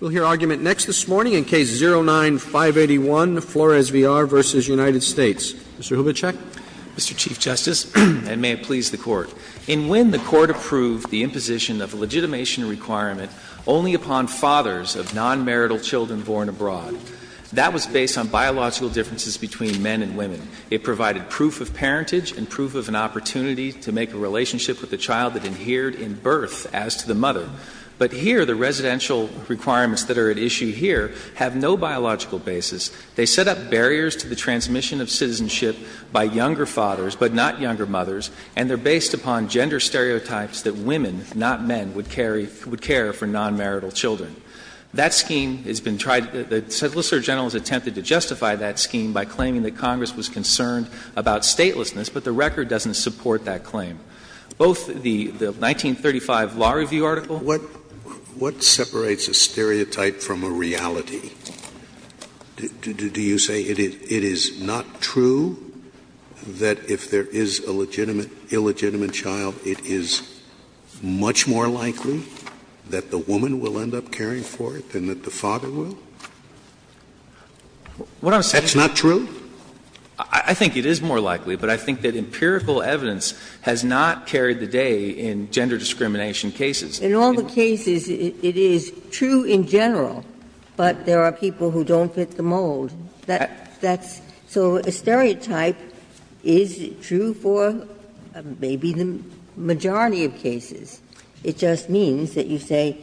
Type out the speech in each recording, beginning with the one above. Mr. Hubachek. Mr. Chief Justice, and may it please the Court, in Wynne, the Court approved the imposition of a legitimation requirement only upon fathers of non-marital children born abroad. That was based on biological differences between men and women. It provided proof of parentage and proof of an opportunity to make a relationship of non-marital children born abroad. In the case of the mother, the mother is a father and the father is the mother. In the case of the father, the mother has no biological basis. They set up barriers to the transmission of citizenship by younger fathers, but not younger mothers, and they're based upon gender stereotypes that women, not men, would carry – would care for non-marital children. That scheme has been tried. The Solicitor General's attempted to justify that scheme by claiming that Congress was concerned about statelessness, but the record doesn't support that claim. Both the 1935 Law Review article. Scalia. What separates a stereotype from a reality? Do you say it is not true that if there is a legitimate, illegitimate child, it is much more likely that the woman will end up caring for it than that the father will? That's not true? I think it is more likely, but I think that empirical evidence has not carried the day in gender discrimination cases. In all the cases, it is true in general, but there are people who don't fit the mold. That's – so a stereotype is true for maybe the majority of cases. It just means that you say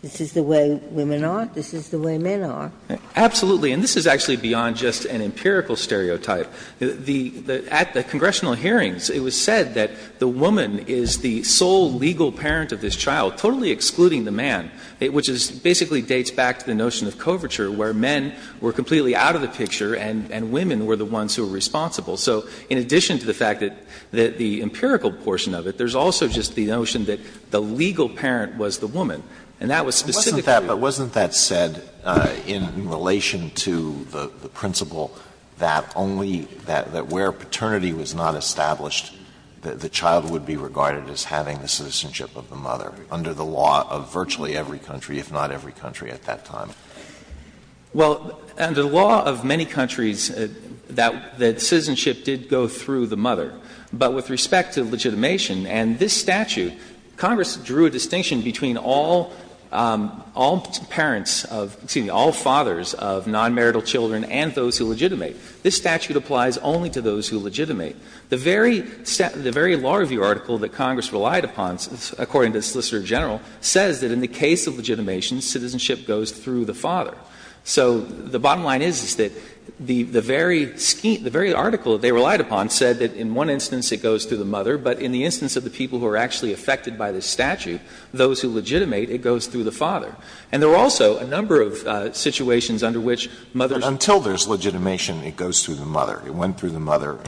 this is the way women are, this is the way men are. Absolutely. And this is actually beyond just an empirical stereotype. At the congressional hearings, it was said that the woman is the sole legal parent of this child, totally excluding the man, which basically dates back to the notion of coverture, where men were completely out of the picture and women were the ones who were responsible. So in addition to the fact that the empirical portion of it, there is also just the notion that the legal parent was the woman. And that was specific to you. But wasn't that said in relation to the principle that only – that where paternity was not established, the child would be regarded as having the citizenship of the mother, under the law of virtually every country, if not every country, at that time? Well, under the law of many countries, that citizenship did go through the mother. But with respect to legitimation and this statute, Congress drew a distinction between all parents of – excuse me, all fathers of nonmarital children and those who legitimate. This statute applies only to those who legitimate. The very law review article that Congress relied upon, according to the Solicitor General, says that in the case of legitimation, citizenship goes through the father. So the bottom line is that the very article that they relied upon said that in one instance it goes through the mother, but in the instance of the people who are actually affected by this statute, those who legitimate, it goes through the father. And there were also a number of situations under which mothers – But until there's legitimation, it goes through the mother. It went through the mother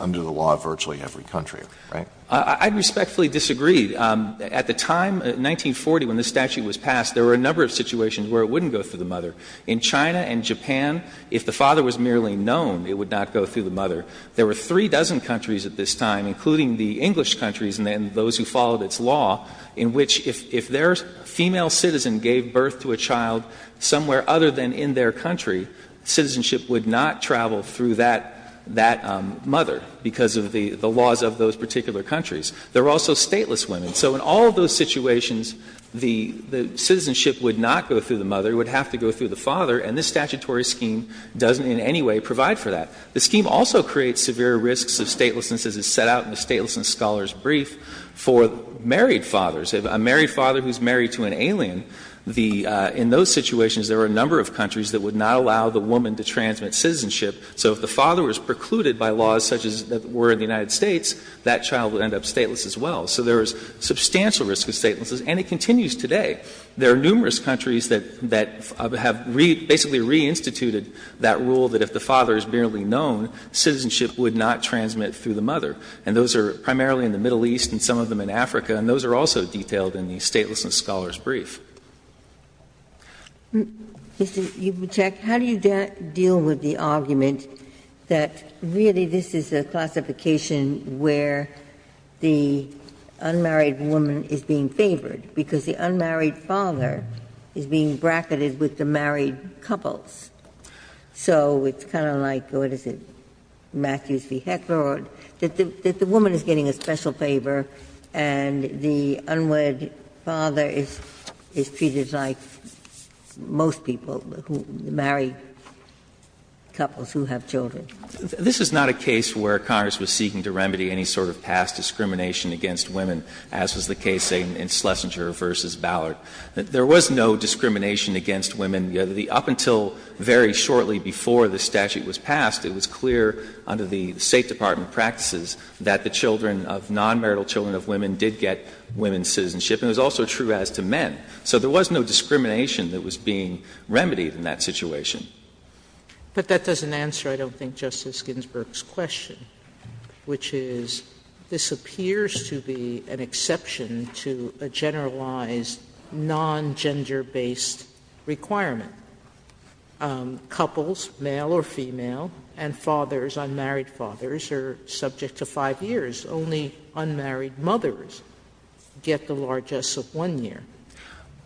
under the law of virtually every country, right? I respectfully disagree. At the time, 1940, when this statute was passed, there were a number of situations where it wouldn't go through the mother. In China and Japan, if the father was merely known, it would not go through the mother. There were three dozen countries at this time, including the English countries and those who followed its law, in which if their female citizen gave birth to a child somewhere other than in their country, citizenship would not travel through that – that mother because of the laws of those particular countries. There were also stateless women. So in all of those situations, the citizenship would not go through the mother. It would have to go through the father. And this statutory scheme doesn't in any way provide for that. The scheme also creates severe risks of statelessness, as is set out in the Statelessness Scholars' brief, for married fathers. If a married father who is married to an alien, the – in those situations, there were a number of countries that would not allow the woman to transmit citizenship. So if the father was precluded by laws such as that were in the United States, that child would end up stateless as well. So there was substantial risk of statelessness. And it continues today. There are numerous countries that have basically reinstituted that rule that if the father is merely known, citizenship would not transmit through the mother. And those are primarily in the Middle East and some of them in Africa. And those are also detailed in the Statelessness Scholars' brief. Ginsburg. Mr. Yubachek, how do you deal with the argument that really this is a classification where the unmarried woman is being favored because the unmarried father is being bracketed with the married couples? So it's kind of like, what is it, Matthews v. Heckler, that the woman is getting a special favor and the unmarried father is treated like most people who marry couples who have children. This is not a case where Congress was seeking to remedy any sort of past discrimination against women, as was the case, say, in Schlesinger v. Ballard. There was no discrimination against women. Up until very shortly before the statute was passed, it was clear under the State Department practices that the children of non-marital children of women did get women's citizenship. And it was also true as to men. So there was no discrimination that was being remedied in that situation. But that doesn't answer, I don't think, Justice Ginsburg's question, which is this appears to be an exception to a generalized non-gender-based requirement. Couples, male or female, and fathers, unmarried fathers, are subject to 5 years. Only unmarried mothers get the largesse of 1 year.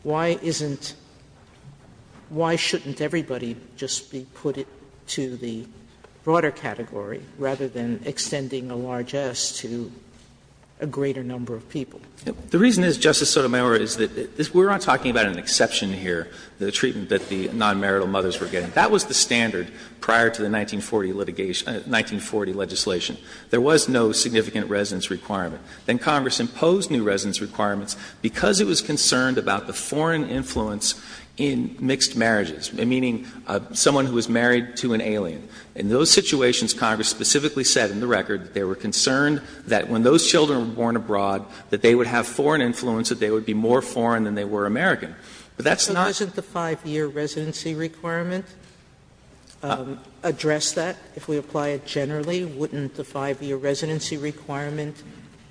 Why isn't why shouldn't everybody just be put to the broader category rather than a greater number of people? The reason is, Justice Sotomayor, is that we're not talking about an exception here, the treatment that the non-marital mothers were getting. That was the standard prior to the 1940 litigation, 1940 legislation. There was no significant residence requirement. Then Congress imposed new residence requirements because it was concerned about the foreign influence in mixed marriages, meaning someone who was married to an alien. In those situations, Congress specifically said in the record that they were concerned that when those children were born abroad, that they would have foreign influence, that they would be more foreign than they were American. But that's not. Sotomayor, isn't the 5-year residency requirement address that if we apply it generally? Wouldn't the 5-year residency requirement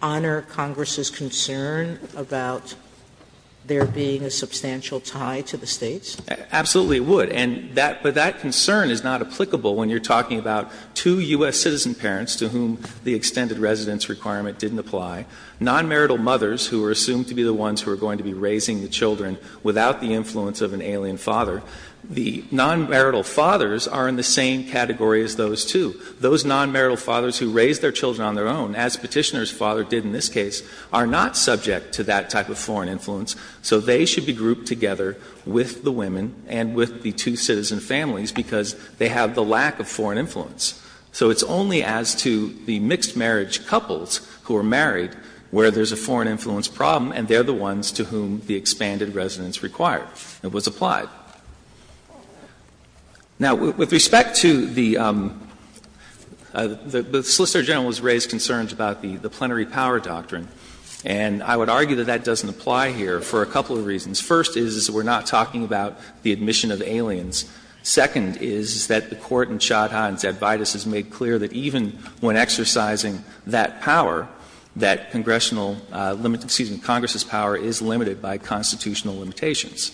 honor Congress's concern about there being a substantial tie to the States? Absolutely, it would. And that concern is not applicable when you're talking about two U.S. citizen parents to whom the extended residence requirement didn't apply, non-marital mothers who are assumed to be the ones who are going to be raising the children without the influence of an alien father. The non-marital fathers are in the same category as those two. Those non-marital fathers who raise their children on their own, as Petitioner's father did in this case, are not subject to that type of foreign influence. So they should be grouped together with the women and with the two citizen families because they have the lack of foreign influence. So it's only as to the mixed marriage couples who are married where there's a foreign influence problem and they're the ones to whom the expanded residence required. It was applied. Now, with respect to the — the Solicitor General has raised concerns about the plenary power doctrine, and I would argue that that doesn't apply here for a couple of reasons. First is we're not talking about the admission of aliens. Second is that the Court in Chod-Hahn's Ad Vitus has made clear that even when exercising that power, that congressional — excuse me, Congress's power is limited by constitutional limitations.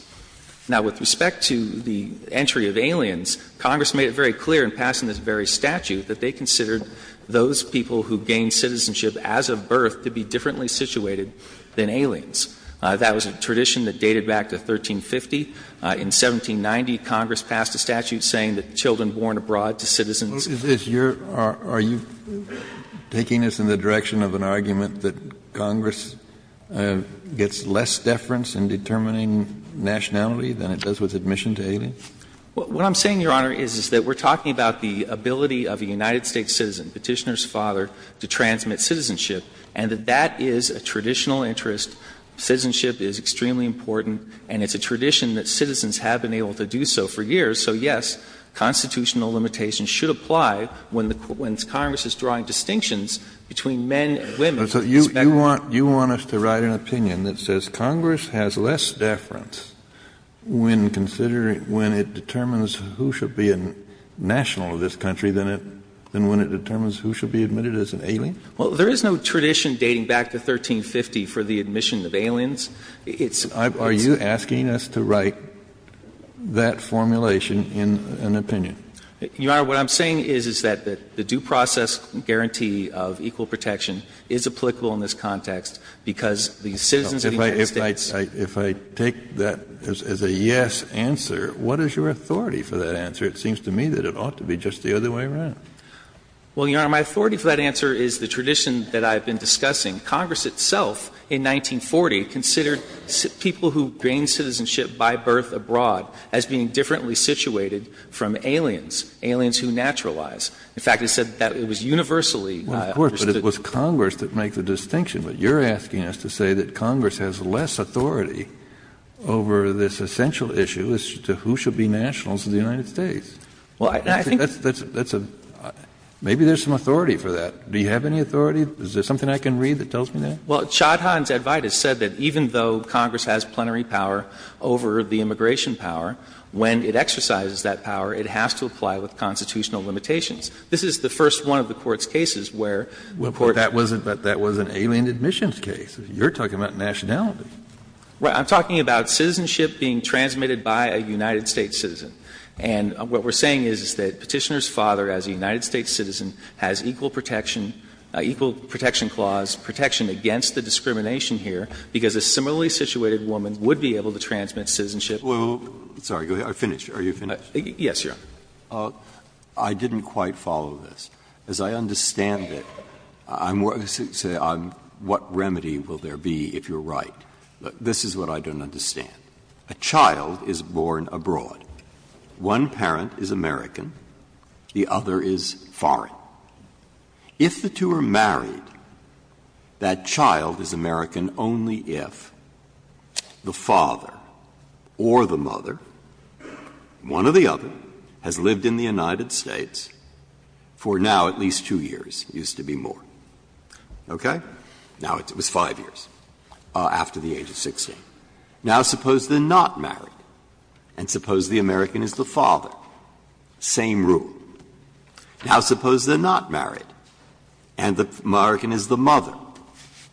Now, with respect to the entry of aliens, Congress made it very clear in passing this very statute that they considered those people who gained citizenship as of birth to be differently situated than aliens. That was a tradition that dated back to 1350. In 1790, Congress passed a statute saying that children born abroad to citizens of — Kennedy, are you taking us in the direction of an argument that Congress gets less deference in determining nationality than it does with admission to aliens? What I'm saying, Your Honor, is that we're talking about the ability of a United States citizen, Petitioner's father, to transmit citizenship, and that that is a traditional interest. Citizenship is extremely important, and it's a tradition that citizens have been able to do so for years. So, yes, constitutional limitations should apply when the — when Congress is drawing distinctions between men and women. Kennedy, so you want — you want us to write an opinion that says Congress has less deference when considering — when it determines who should be a national of this country than it — than when it determines who should be admitted as an alien? Well, there is no tradition dating back to 1350 for the admission of aliens. It's — Are you asking us to write that formulation in an opinion? Your Honor, what I'm saying is, is that the due process guarantee of equal protection is applicable in this context because the citizens of the United States — If I take that as a yes answer, what is your authority for that answer? It seems to me that it ought to be just the other way around. Well, Your Honor, my authority for that answer is the tradition that I've been discussing. Congress itself, in 1940, considered people who gained citizenship by birth abroad as being differently situated from aliens, aliens who naturalize. In fact, it said that it was universally understood. Well, of course, but it was Congress that makes the distinction. But you're asking us to say that Congress has less authority over this essential issue as to who should be nationals of the United States. Well, I think — That's a — maybe there's some authority for that. Do you have any authority? Is there something I can read that tells me that? Well, Chodhon's Advite has said that even though Congress has plenary power over the immigration power, when it exercises that power, it has to apply with constitutional limitations. This is the first one of the Court's cases where — Well, but that was an alien admissions case. You're talking about nationality. Right. I'm talking about citizenship being transmitted by a United States citizen. And what we're saying is, is that Petitioner's father, as a United States citizen, has equal protection, equal protection clause, protection against the discrimination here, because a similarly situated woman would be able to transmit citizenship. Wait, wait, wait. Sorry. Go ahead. I'm finished. Are you finished? Yes, Your Honor. I didn't quite follow this. As I understand it, I'm — what remedy will there be if you're right? This is what I don't understand. A child is born abroad. One parent is American. The other is foreign. If the two are married, that child is American only if the father or the mother, one or the other, has lived in the United States for now at least two years. It used to be more. Okay? Now it was five years after the age of 16. Now suppose they're not married, and suppose the American is the father. Same rule. Now suppose they're not married, and the American is the mother.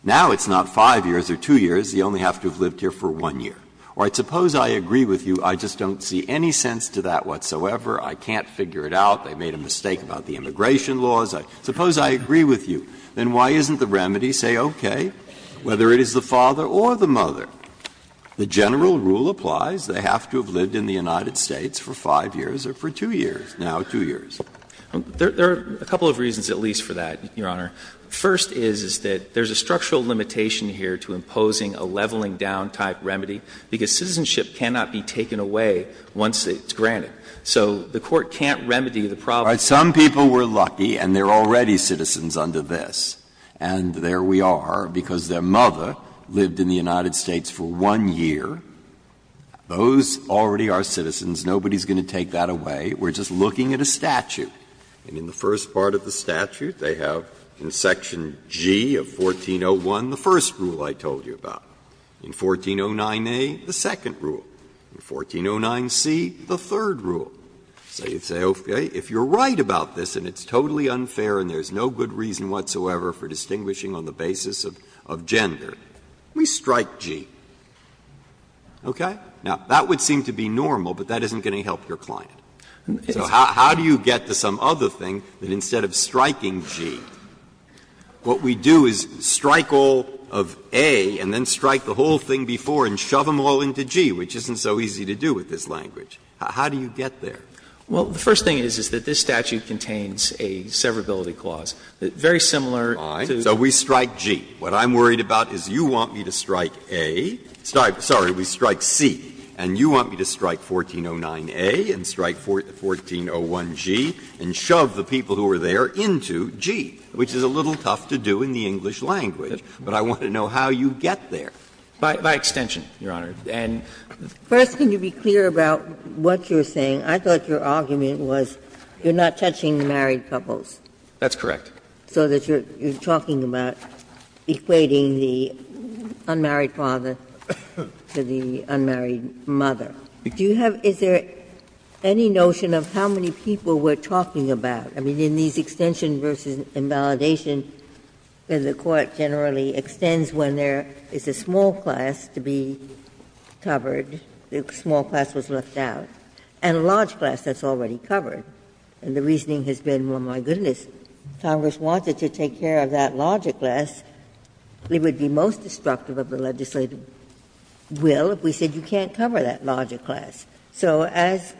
Now it's not five years or two years. You only have to have lived here for one year. All right. Suppose I agree with you. I just don't see any sense to that whatsoever. I can't figure it out. They made a mistake about the immigration laws. Suppose I agree with you. Then why isn't the remedy, say, okay, whether it is the father or the mother? The general rule applies. They have to have lived in the United States for five years or for two years, now two years. There are a couple of reasons at least for that, Your Honor. First is that there's a structural limitation here to imposing a leveling-down type remedy, because citizenship cannot be taken away once it's granted. So the Court can't remedy the problem. All right. Some people were lucky, and they're already citizens under this. And there we are, because their mother lived in the United States for one year. Those already are citizens. Nobody is going to take that away. We're just looking at a statute. And in the first part of the statute, they have in section G of 1401 the first rule I told you about. In 1409A, the second rule. In 1409C, the third rule. So you say, okay, if you're right about this and it's totally unfair and there's no good reason whatsoever for distinguishing on the basis of gender, we strike G. Okay? Now, that would seem to be normal, but that isn't going to help your client. So how do you get to some other thing that instead of striking G, what we do is strike all of A and then strike the whole thing before and shove them all into G, which isn't so easy to do with this language. How do you get there? Well, the first thing is, is that this statute contains a severability clause, very similar to the other. So we strike G. What I'm worried about is you want me to strike A, sorry, we strike C, and you want me to strike 1409A and strike 1401G and shove the people who are there into G, which is a little tough to do in the English language. But I want to know how you get there. By extension, Your Honor. First, can you be clear about what you were saying? I thought your argument was you're not touching the married couples. That's correct. So that you're talking about equating the unmarried father to the unmarried mother. Do you have any notion of how many people we're talking about? I mean, in these extension versus invalidation, the court generally extends when there is a small class to be covered, the small class was left out, and a large class that's already covered. And the reasoning has been, well, my goodness, Congress wanted to take care of that larger class. It would be most destructive of the legislative will if we said you can't cover that larger class. So as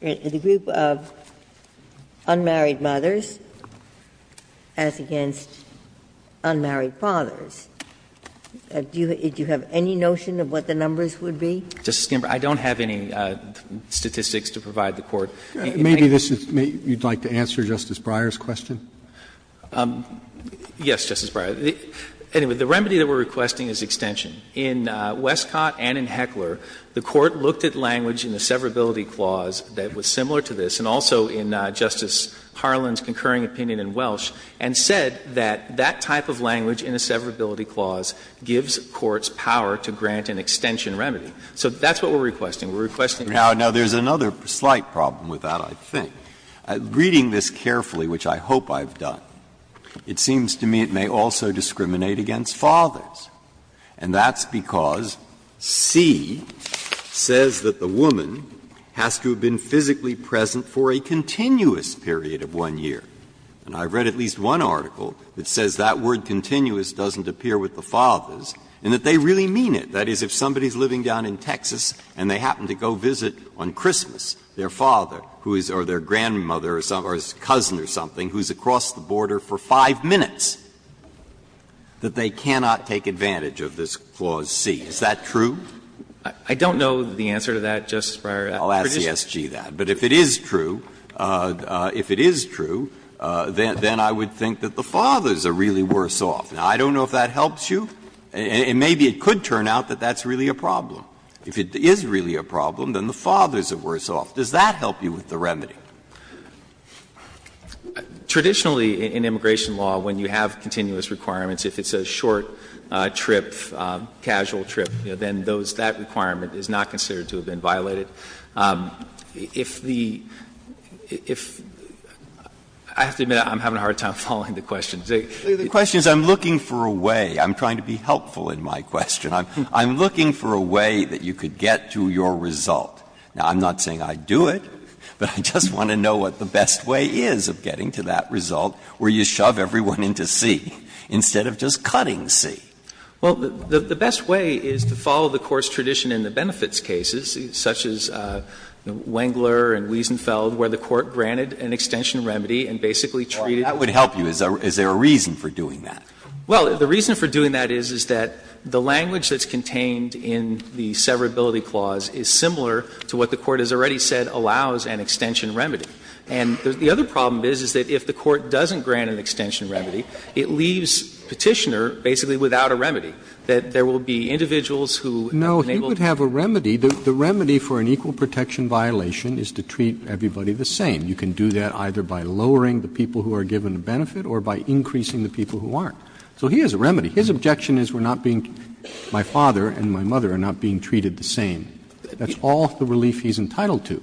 the group of unmarried mothers, as against unmarried fathers, it's not a question Do you have any notion of what the numbers would be? Justice Ginsburg, I don't have any statistics to provide the Court. Maybe this is you'd like to answer Justice Breyer's question. Yes, Justice Breyer. Anyway, the remedy that we're requesting is extension. In Westcott and in Heckler, the Court looked at language in the severability clause that was similar to this, and also in Justice Harlan's concurring opinion in Welsh, and said that that type of language in a severability clause gives courts power to grant an extension remedy. So that's what we're requesting. We're requesting that. Now, there's another slight problem with that, I think. Reading this carefully, which I hope I've done, it seems to me it may also discriminate against fathers, and that's because C says that the woman has to have been physically present for a continuous period of one year. And I've read at least one article that says that word continuous doesn't appear with the fathers, and that they really mean it. That is, if somebody is living down in Texas and they happen to go visit on Christmas their father or their grandmother or cousin or something who is across the border for 5 minutes, that they cannot take advantage of this clause C. Is that true? I don't know the answer to that, Justice Breyer. I'll ask the SG that. But if it is true, if it is true, then I would think that the fathers are really worse off. Now, I don't know if that helps you. Maybe it could turn out that that's really a problem. If it is really a problem, then the fathers are worse off. Does that help you with the remedy? Chang, traditionally in immigration law, when you have continuous requirements, if it's a short trip, casual trip, then that requirement is not considered to have been violated. If the — if — I have to admit I'm having a hard time following the questions. Breyer, the question is I'm looking for a way. I'm trying to be helpful in my question. I'm looking for a way that you could get to your result. Now, I'm not saying I'd do it, but I just want to know what the best way is of getting to that result where you shove everyone into C instead of just cutting C. Well, the best way is to follow the course tradition in the benefits cases, such as Wengler and Wiesenfeld, where the Court granted an extension remedy and basically treated it. That would help you. Is there a reason for doing that? Well, the reason for doing that is, is that the language that's contained in the severability clause is similar to what the Court has already said allows an extension remedy. And the other problem is, is that if the Court doesn't grant an extension remedy, it leaves Petitioner basically without a remedy, that there will be individuals who enabled. But you could have a remedy. The remedy for an equal protection violation is to treat everybody the same. You can do that either by lowering the people who are given a benefit or by increasing the people who aren't. So he has a remedy. His objection is we're not being, my father and my mother are not being treated the same. That's all the relief he's entitled to.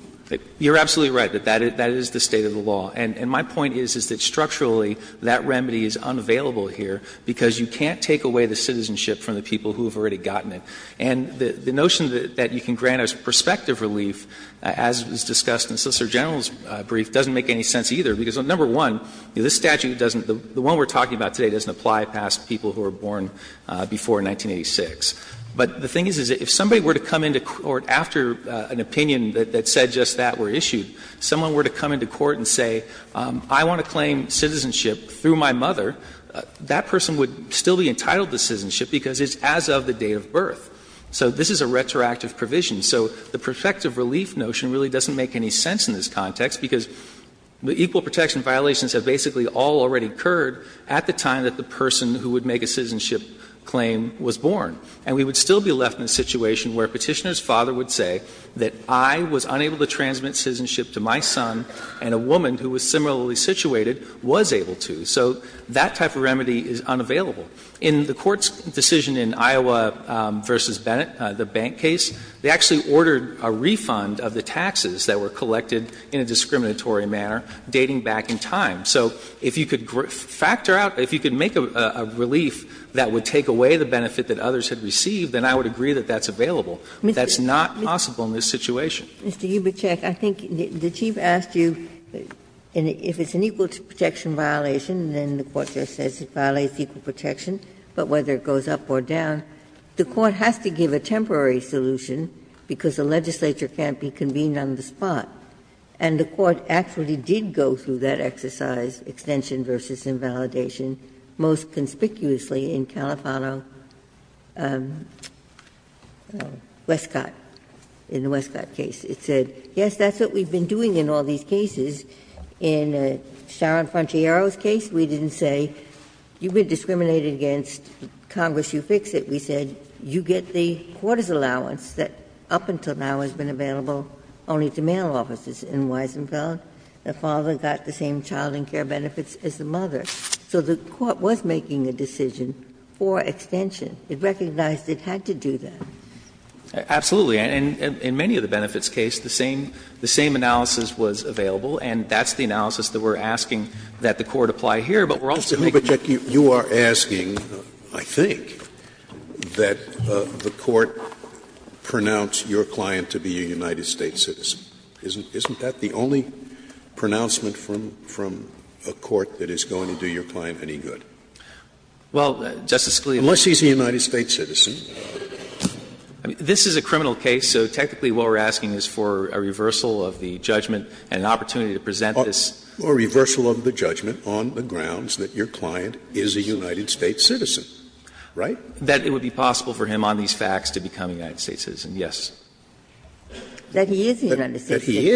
You're absolutely right that that is the state of the law. And my point is, is that structurally, that remedy is unavailable here because you can't take away the citizenship from the people who have already gotten it. And the notion that you can grant us prospective relief, as was discussed in Solicitor General's brief, doesn't make any sense either, because, number one, this statute doesn't, the one we're talking about today doesn't apply past people who were born before 1986. But the thing is, is if somebody were to come into court after an opinion that said just that were issued, someone were to come into court and say, I want to claim citizenship through my mother, that person would still be entitled to citizenship because it's as of the date of birth. So this is a retroactive provision. So the prospective relief notion really doesn't make any sense in this context because the equal protection violations have basically all already occurred at the time that the person who would make a citizenship claim was born. And we would still be left in a situation where Petitioner's father would say that I was unable to transmit citizenship to my son and a woman who was similarly situated was able to. So that type of remedy is unavailable. In the Court's decision in Iowa v. Bennett, the bank case, they actually ordered a refund of the taxes that were collected in a discriminatory manner dating back in time. So if you could factor out, if you could make a relief that would take away the benefit that others had received, then I would agree that that's available. That's not possible in this situation. Ginsburg. Mr. Ubichek, I think the Chief asked you, if it's an equal protection violation, then the Court just says it violates equal protection, but whether it goes up or down, the Court has to give a temporary solution because the legislature can't be convened on the spot. And the Court actually did go through that exercise, extension v. invalidation, most conspicuously in Califano-Westcott, in the Westcott case. It said, yes, that's what we've been doing in all these cases. In Sharon Frontiero's case, we didn't say, you've been discriminated against, Congress, you fix it. We said, you get the Court's allowance that up until now has been available only to male officers. In Weisenfeld, the father got the same child and care benefits as the mother. So the Court was making a decision for extension. It recognized it had to do that. Absolutely. And in many of the benefits case, the same analysis was available, and that's the analysis that we're asking that the Court apply here, but we're also making. Scalia, you are asking, I think, that the Court pronounce your client to be a United States citizen. Isn't that the only pronouncement from a court that is going to do your client any good? Well, Justice Scalia, unless he's a United States citizen. This is a criminal case, so technically what we're asking is for a reversal of the judgment and an opportunity to present this. A reversal of the judgment on the grounds that your client is a United States citizen, right? That it would be possible for him on these facts to become a United States citizen, yes. That he is a United States citizen. That he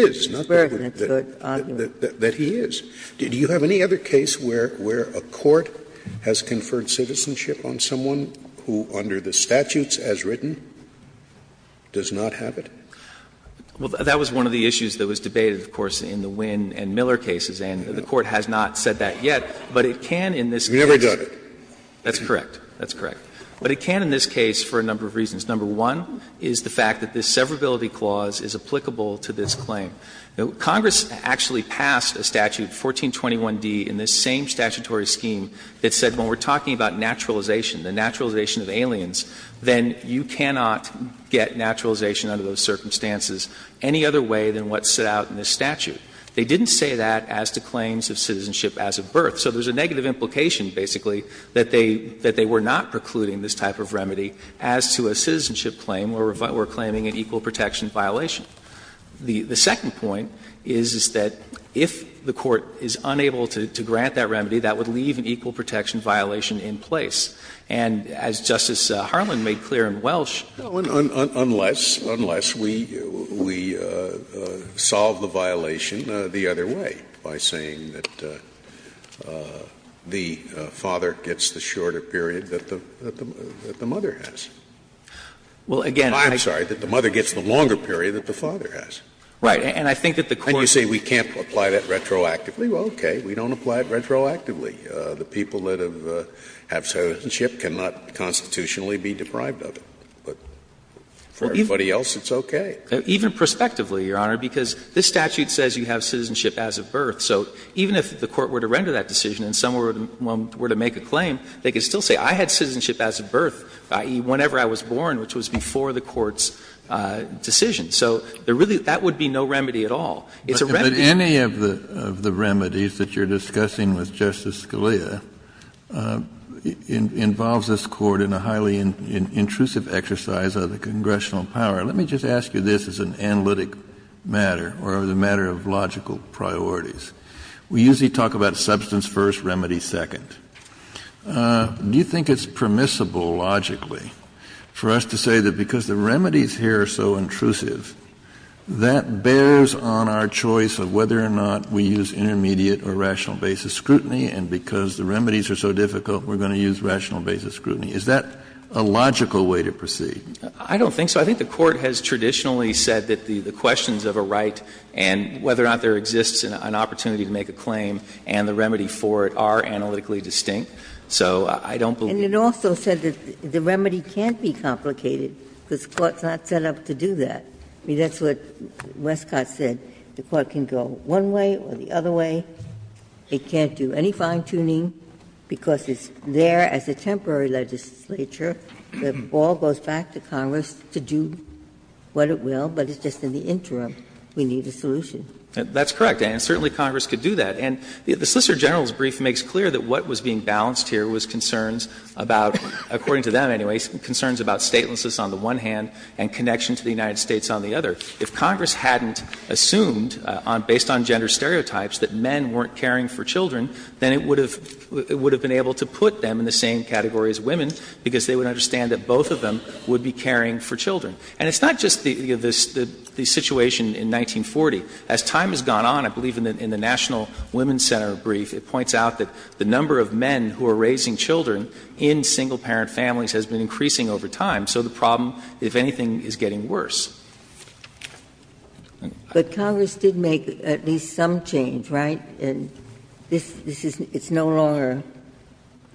is. That he is. Do you have any other case where a court has conferred citizenship on someone who, under the statutes as written, does not have it? Well, that was one of the issues that was debated, of course, in the Wynn and Miller cases, and the Court has not said that yet. But it can in this case. You've never done it. That's correct. That's correct. But it can in this case for a number of reasons. Number one is the fact that this severability clause is applicable to this claim. Congress actually passed a statute, 1421d, in this same statutory scheme that said when we're talking about naturalization, the naturalization of aliens, then you cannot get naturalization under those circumstances any other way than what's set out in this statute. They didn't say that as to claims of citizenship as of birth. So there's a negative implication, basically, that they were not precluding this type of remedy as to a citizenship claim where we're claiming an equal protection violation. The second point is that if the Court is unable to grant that remedy, that would leave an equal protection violation in place. And as Justice Harlan made clear in Welsh Scalia, unless we solve the violation the other way, by saying that the father gets the shorter period that the mother has. Well, again, I'm sorry, that the mother gets the longer period that the father has. Right. And I think that the Court And you say we can't apply that retroactively. Well, okay. We don't apply it retroactively. The people that have citizenship cannot constitutionally be deprived of it. But for everybody else, it's okay. Even prospectively, Your Honor, because this statute says you have citizenship as of birth. So even if the Court were to render that decision and someone were to make a claim, they could still say I had citizenship as of birth, i.e., whenever I was born, which was before the Court's decision. So there really — that would be no remedy at all. It's a remedy. But any of the remedies that you're discussing with Justice Scalia involves this Court in a highly intrusive exercise of the congressional power. Let me just ask you this as an analytic matter or as a matter of logical priorities. We usually talk about substance first, remedy second. Do you think it's permissible, logically, for us to say that because the remedies here are so intrusive, that bears on our choice of whether or not we use intermediate or rational basis scrutiny, and because the remedies are so difficult, we're going to use rational basis scrutiny? Is that a logical way to proceed? I don't think so. I think the Court has traditionally said that the questions of a right and whether or not there exists an opportunity to make a claim and the remedy for it are analytically distinct. So I don't believe it. And it also said that the remedy can't be complicated because the Court's not set up to do that. I mean, that's what Westcott said. The Court can go one way or the other way. It can't do any fine-tuning because it's there as a temporary legislature. The ball goes back to Congress to do what it will, but it's just in the interim we need a solution. That's correct, and certainly Congress could do that. And the Solicitor General's brief makes clear that what was being balanced here was the concerns about, according to them, anyway, concerns about statelessness on the one hand and connection to the United States on the other. If Congress hadn't assumed, based on gender stereotypes, that men weren't caring for children, then it would have been able to put them in the same category as women, because they would understand that both of them would be caring for children. And it's not just the situation in 1940. As time has gone on, I believe in the National Women's Center brief, it points out that the number of men who are raising children in single-parent families has been increasing over time. So the problem, if anything, is getting worse. Ginsburg. But Congress did make at least some change, right? And this is no longer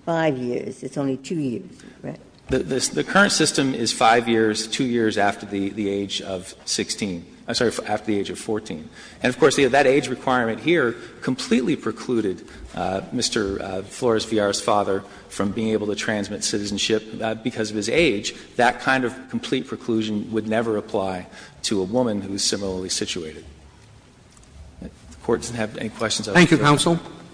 5 years, it's only 2 years, right? The current system is 5 years, 2 years after the age of 16. I'm sorry, after the age of 14. And, of course, that age requirement here completely precluded Mr. Flores-Villar's father from being able to transmit citizenship because of his age. That kind of complete preclusion would never apply to a woman who is similarly situated. If the Court doesn't have any questions, I would like to ask Justice Sotomayor.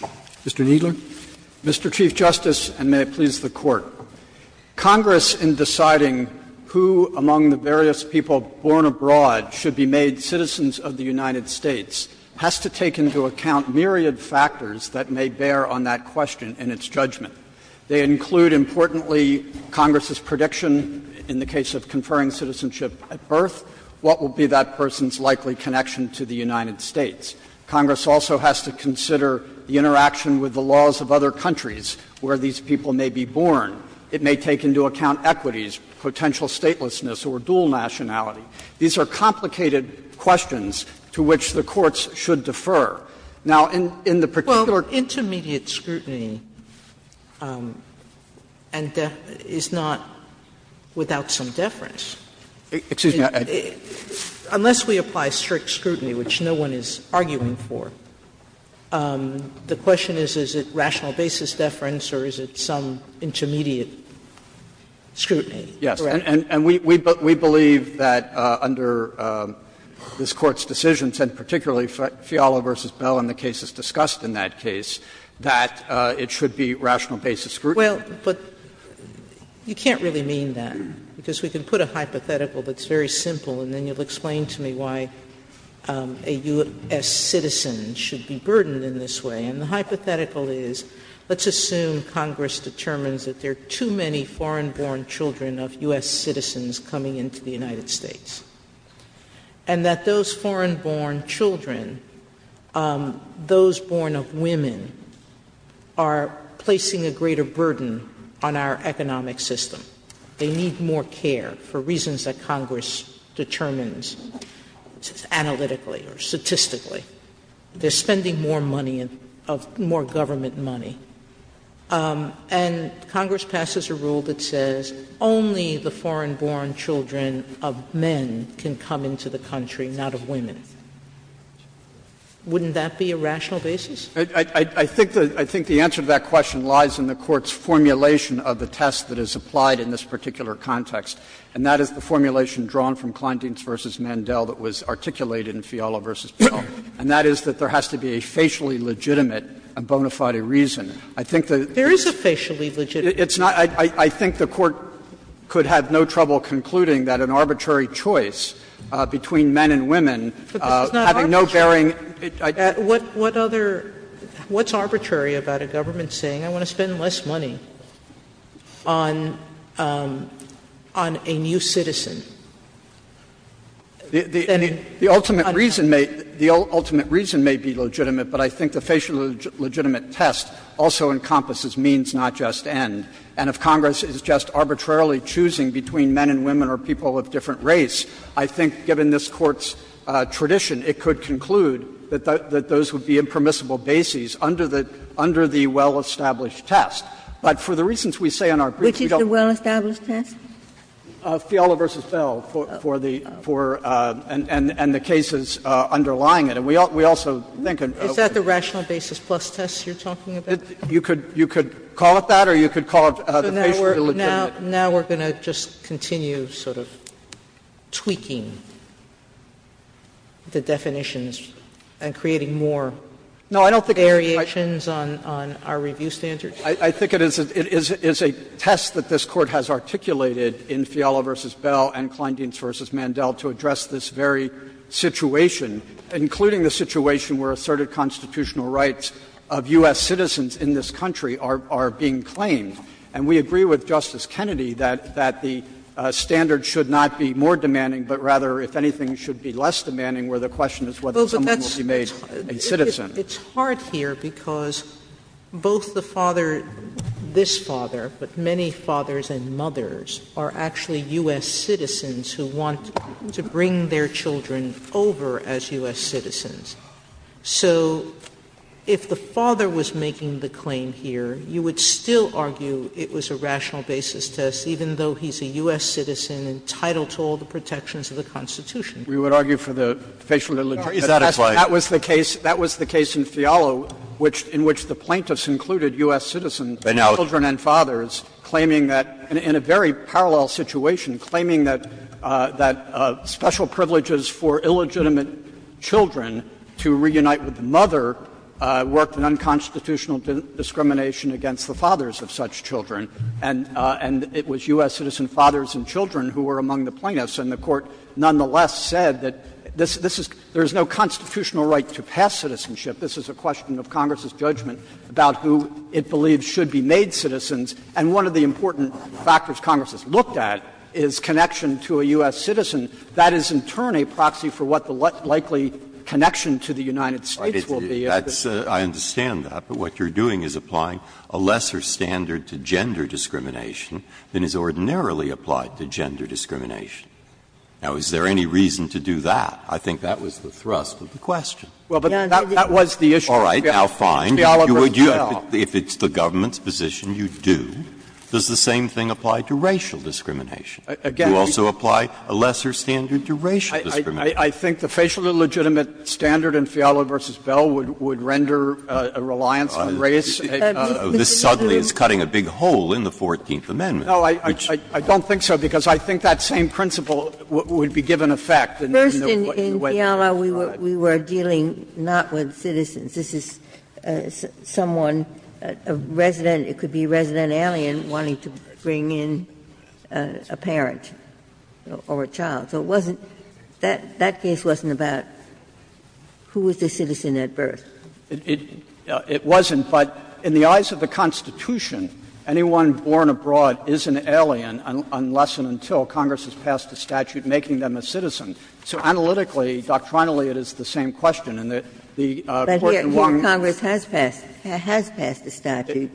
Roberts. Mr. Kneedler. Mr. Chief Justice, and may it please the Court. Congress, in deciding who among the various people born abroad should be made citizens of the United States, has to take into account myriad factors that may bear on that question and its judgment. They include, importantly, Congress's prediction in the case of conferring citizenship at birth, what will be that person's likely connection to the United States. Congress also has to consider the interaction with the laws of other countries where these people may be born. It may take into account equities, potential statelessness, or dual nationality. These are complicated questions to which the courts should defer. Now, in the particular- Sotomayor's intermediate scrutiny is not without some deference. Kneedler, unless we apply strict scrutiny, which no one is arguing for, the question is, is it rational basis deference or is it some intermediate scrutiny? Kneedler, Yes. And we believe that under this Court's decisions, and particularly Fiala v. Bell and the cases discussed in that case, that it should be rational basis scrutiny. Sotomayor, Well, but you can't really mean that, because we can put a hypothetical that's very simple, and then you'll explain to me why a U.S. citizen should be burdened in this way. And the hypothetical is, let's assume Congress determines that there are too many foreign-born children of U.S. citizens coming into the United States, and that those foreign-born children, those born of women, are placing a greater burden on our economic system. They need more care for reasons that Congress determines analytically or statistically. They're spending more money, more government money. And Congress passes a rule that says only the foreign-born children of men can come into the country, not of women. Wouldn't that be a rational basis? Kneedler, I think the answer to that question lies in the Court's formulation of the test that is applied in this particular context, and that is the formulation drawn from Kleindienst v. Mandel that was articulated in Fiala v. Pell, and that is that there has to be a facially legitimate and bona fide reason. I think that there is a facially legitimate reason. I think the Court could have no trouble concluding that an arbitrary choice between Sotomayor, But this is not arbitrary. What other – what's arbitrary about a government saying, I want to spend less money on a new citizen than in my country? Kneedler, the ultimate reason may be legitimate, but I think the facially legitimate test also encompasses means, not just end. And if Congress is just arbitrarily choosing between men and women or people of different race, I think given this Court's tradition, it could conclude that those would be impermissible bases under the well-established test. But for the reasons we say in our brief, we don't Which is the well-established test? Fiala v. Pell, for the – and the cases underlying it. And we also think Is that the rational basis plus test you're talking about? You could call it that or you could call it the facially legitimate. Now we're going to just continue sort of tweaking the definitions and creating more variations on our review standards? I think it is a test that this Court has articulated in Fiala v. Pell and Kleindienst v. Mandel to address this very situation, including the situation where asserted constitutional rights of U.S. citizens in this country are being claimed. And we agree with Justice Kennedy that the standard should not be more demanding, but rather, if anything, should be less demanding, where the question is whether someone will be made a citizen. It's hard here because both the father – this father, but many fathers and mothers are actually U.S. citizens who want to bring their children over as U.S. citizens. So if the father was making the claim here, you would still argue it was a rational basis test, even though he's a U.S. citizen entitled to all the protections of the Constitution. We would argue for the facially legitimate test. Is that a claim? That was the case in Fiala, in which the plaintiffs included U.S. citizens, children and fathers, claiming that, in a very parallel situation, claiming that special privileges for illegitimate children to reunite with the mother worked in unconstitutional discrimination against the fathers of such children. And it was U.S. citizen fathers and children who were among the plaintiffs. And the Court nonetheless said that this is – there is no constitutional right to pass citizenship. This is a question of Congress's judgment about who it believes should be made citizens. And one of the important factors Congress has looked at is connection to a U.S. citizen. That is, in turn, a proxy for what the likely connection to the United States will be. Breyer, I understand that, but what you're doing is applying a lesser standard to gender discrimination than is ordinarily applied to gender discrimination. Now, is there any reason to do that? I think that was the thrust of the question. Well, but that was the issue. All right. Now, fine. If it's the government's position, you do. Does the same thing apply to racial discrimination? Again, I think the facial illegitimate standard in Fiala v. Bell would render a reliance on race. This suddenly is cutting a big hole in the 14th Amendment. No, I don't think so, because I think that same principle would be given effect in the way it's applied. First, in Fiala, we were dealing not with citizens. This is someone, a resident, it could be a resident alien, wanting to bring in a parent or a child. So it wasn't that case wasn't about who was the citizen at birth. It wasn't, but in the eyes of the Constitution, anyone born abroad is an alien unless and until Congress has passed a statute making them a citizen. So analytically, doctrinally, it is the same question, and the Court in Longmore has passed a statute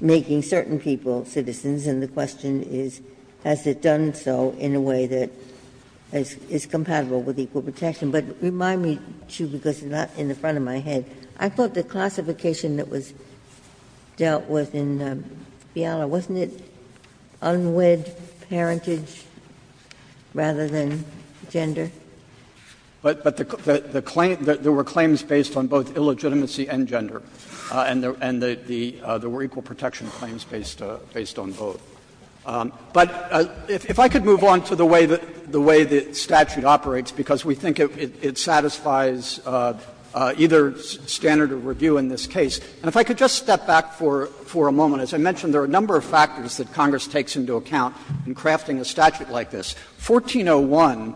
making certain people citizens, and the question is, has it done so in a way that is compatible with equal protection? Ginsburg's question, but remind me, too, because it's not in the front of my head. I thought the classification that was dealt with in Fiala, wasn't it unwed parentage rather than gender? But the claim — there were claims based on both illegitimacy and gender, and there were equal protection claims based on both. But if I could move on to the way that the statute operates, because we think it satisfies either standard of review in this case, and if I could just step back for a moment. As I mentioned, there are a number of factors that Congress takes into account in crafting a statute like this. 1401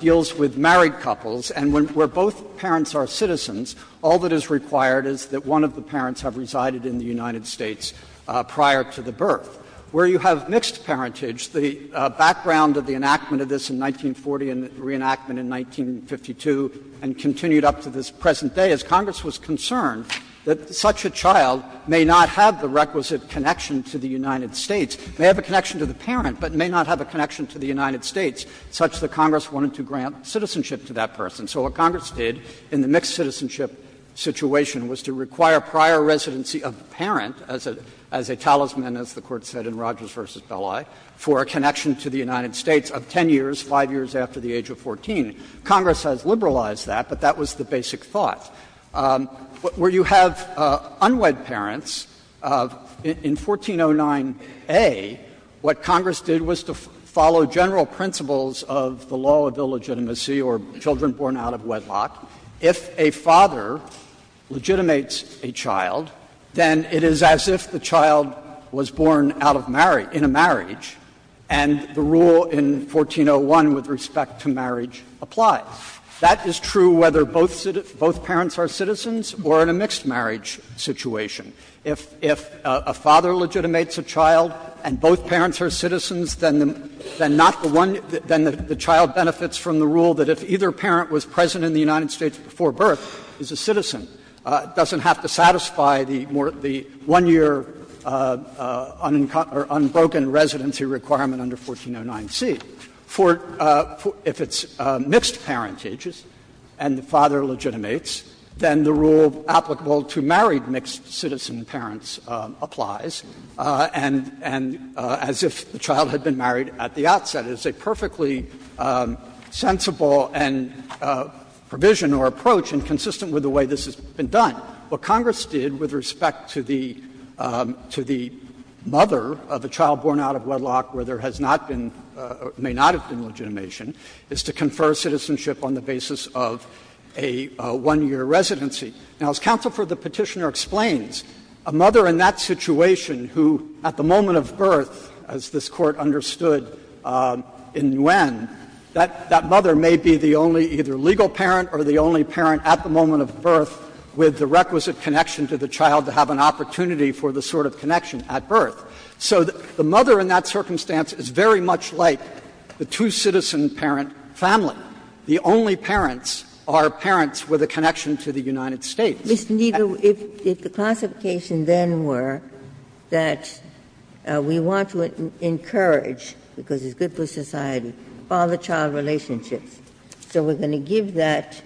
deals with married couples, and where both parents are citizens, all that is required is that one of the parents have resided in the United States prior to the birth. Where you have mixed parentage, the background of the enactment of this in 1940 and the reenactment in 1952 and continued up to this present day is Congress was concerned that such a child may not have the requisite connection to the United States, may have a connection to the parent, but may not have a connection to the United States, such that Congress wanted to grant citizenship to that person. So what Congress did in the mixed citizenship situation was to require prior residency of the parent as a talisman, as the Court said in Rogers v. Belli, for a connection to the United States of 10 years, 5 years after the age of 14. Congress has liberalized that, but that was the basic thought. Where you have unwed parents, in 1409a, what Congress did was to follow general principles of the law of illegitimacy or children born out of wedlock. If a father legitimates a child, then it is as if the child was born out of marriage — in a marriage, and the rule in 1401 with respect to marriage applies. That is true whether both parents are citizens or in a mixed marriage situation. If a father legitimates a child and both parents are citizens, then not the one — then the child benefits from the rule that if either parent was present in the United States before birth, is a citizen, doesn't have to satisfy the one-year unbroken residency requirement under 1409c. If it's mixed parentages and the father legitimates, then the rule applicable to married mixed citizen parents applies, and as if the child had been married at the outset. It's a perfectly sensible provision or approach, and consistent with the way this has been done. What Congress did with respect to the mother of a child born out of wedlock where there has not been — may not have been legitimation, is to confer citizenship on the basis of a one-year residency. Now, as Counsel for the Petitioner explains, a mother in that situation who, at the time this Court understood in Nguyen, that mother may be the only either legal parent or the only parent at the moment of birth with the requisite connection to the child to have an opportunity for the sort of connection at birth. So the mother in that circumstance is very much like the two-citizen parent family. The only parents are parents with a connection to the United States. Ginsburg. Mr. Kneedler, if the classification then were that we want to encourage, because it's good for society, father-child relationships, so we're going to give that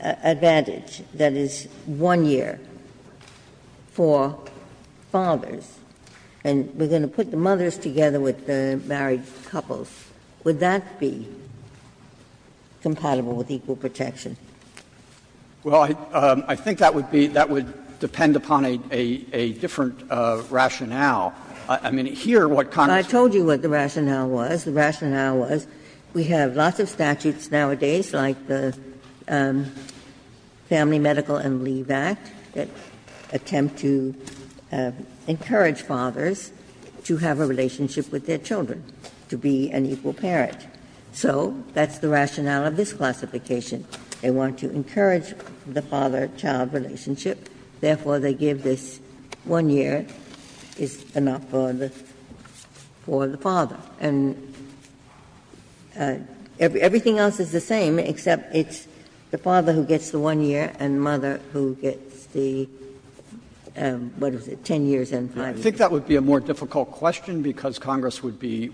advantage, that is, one year for fathers, and we're going to put the mothers together with the married couples, would that be compatible with equal protection? Kneedler, Well, I think that would be — that would depend upon a different rationale. I mean, here what Congress does is say, well, I told you what the rationale was. The rationale was we have lots of statutes nowadays like the Family Medical and Leave Act that attempt to encourage fathers to have a relationship with their children, to be an equal parent. So that's the rationale of this classification. They want to encourage the father-child relationship, therefore, they give this 1-year is enough for the father. And everything else is the same, except it's the father who gets the 1-year and the mother who gets the, what is it, 10 years and 5 years. Kneedler, I think that would be a more difficult question, because Congress would be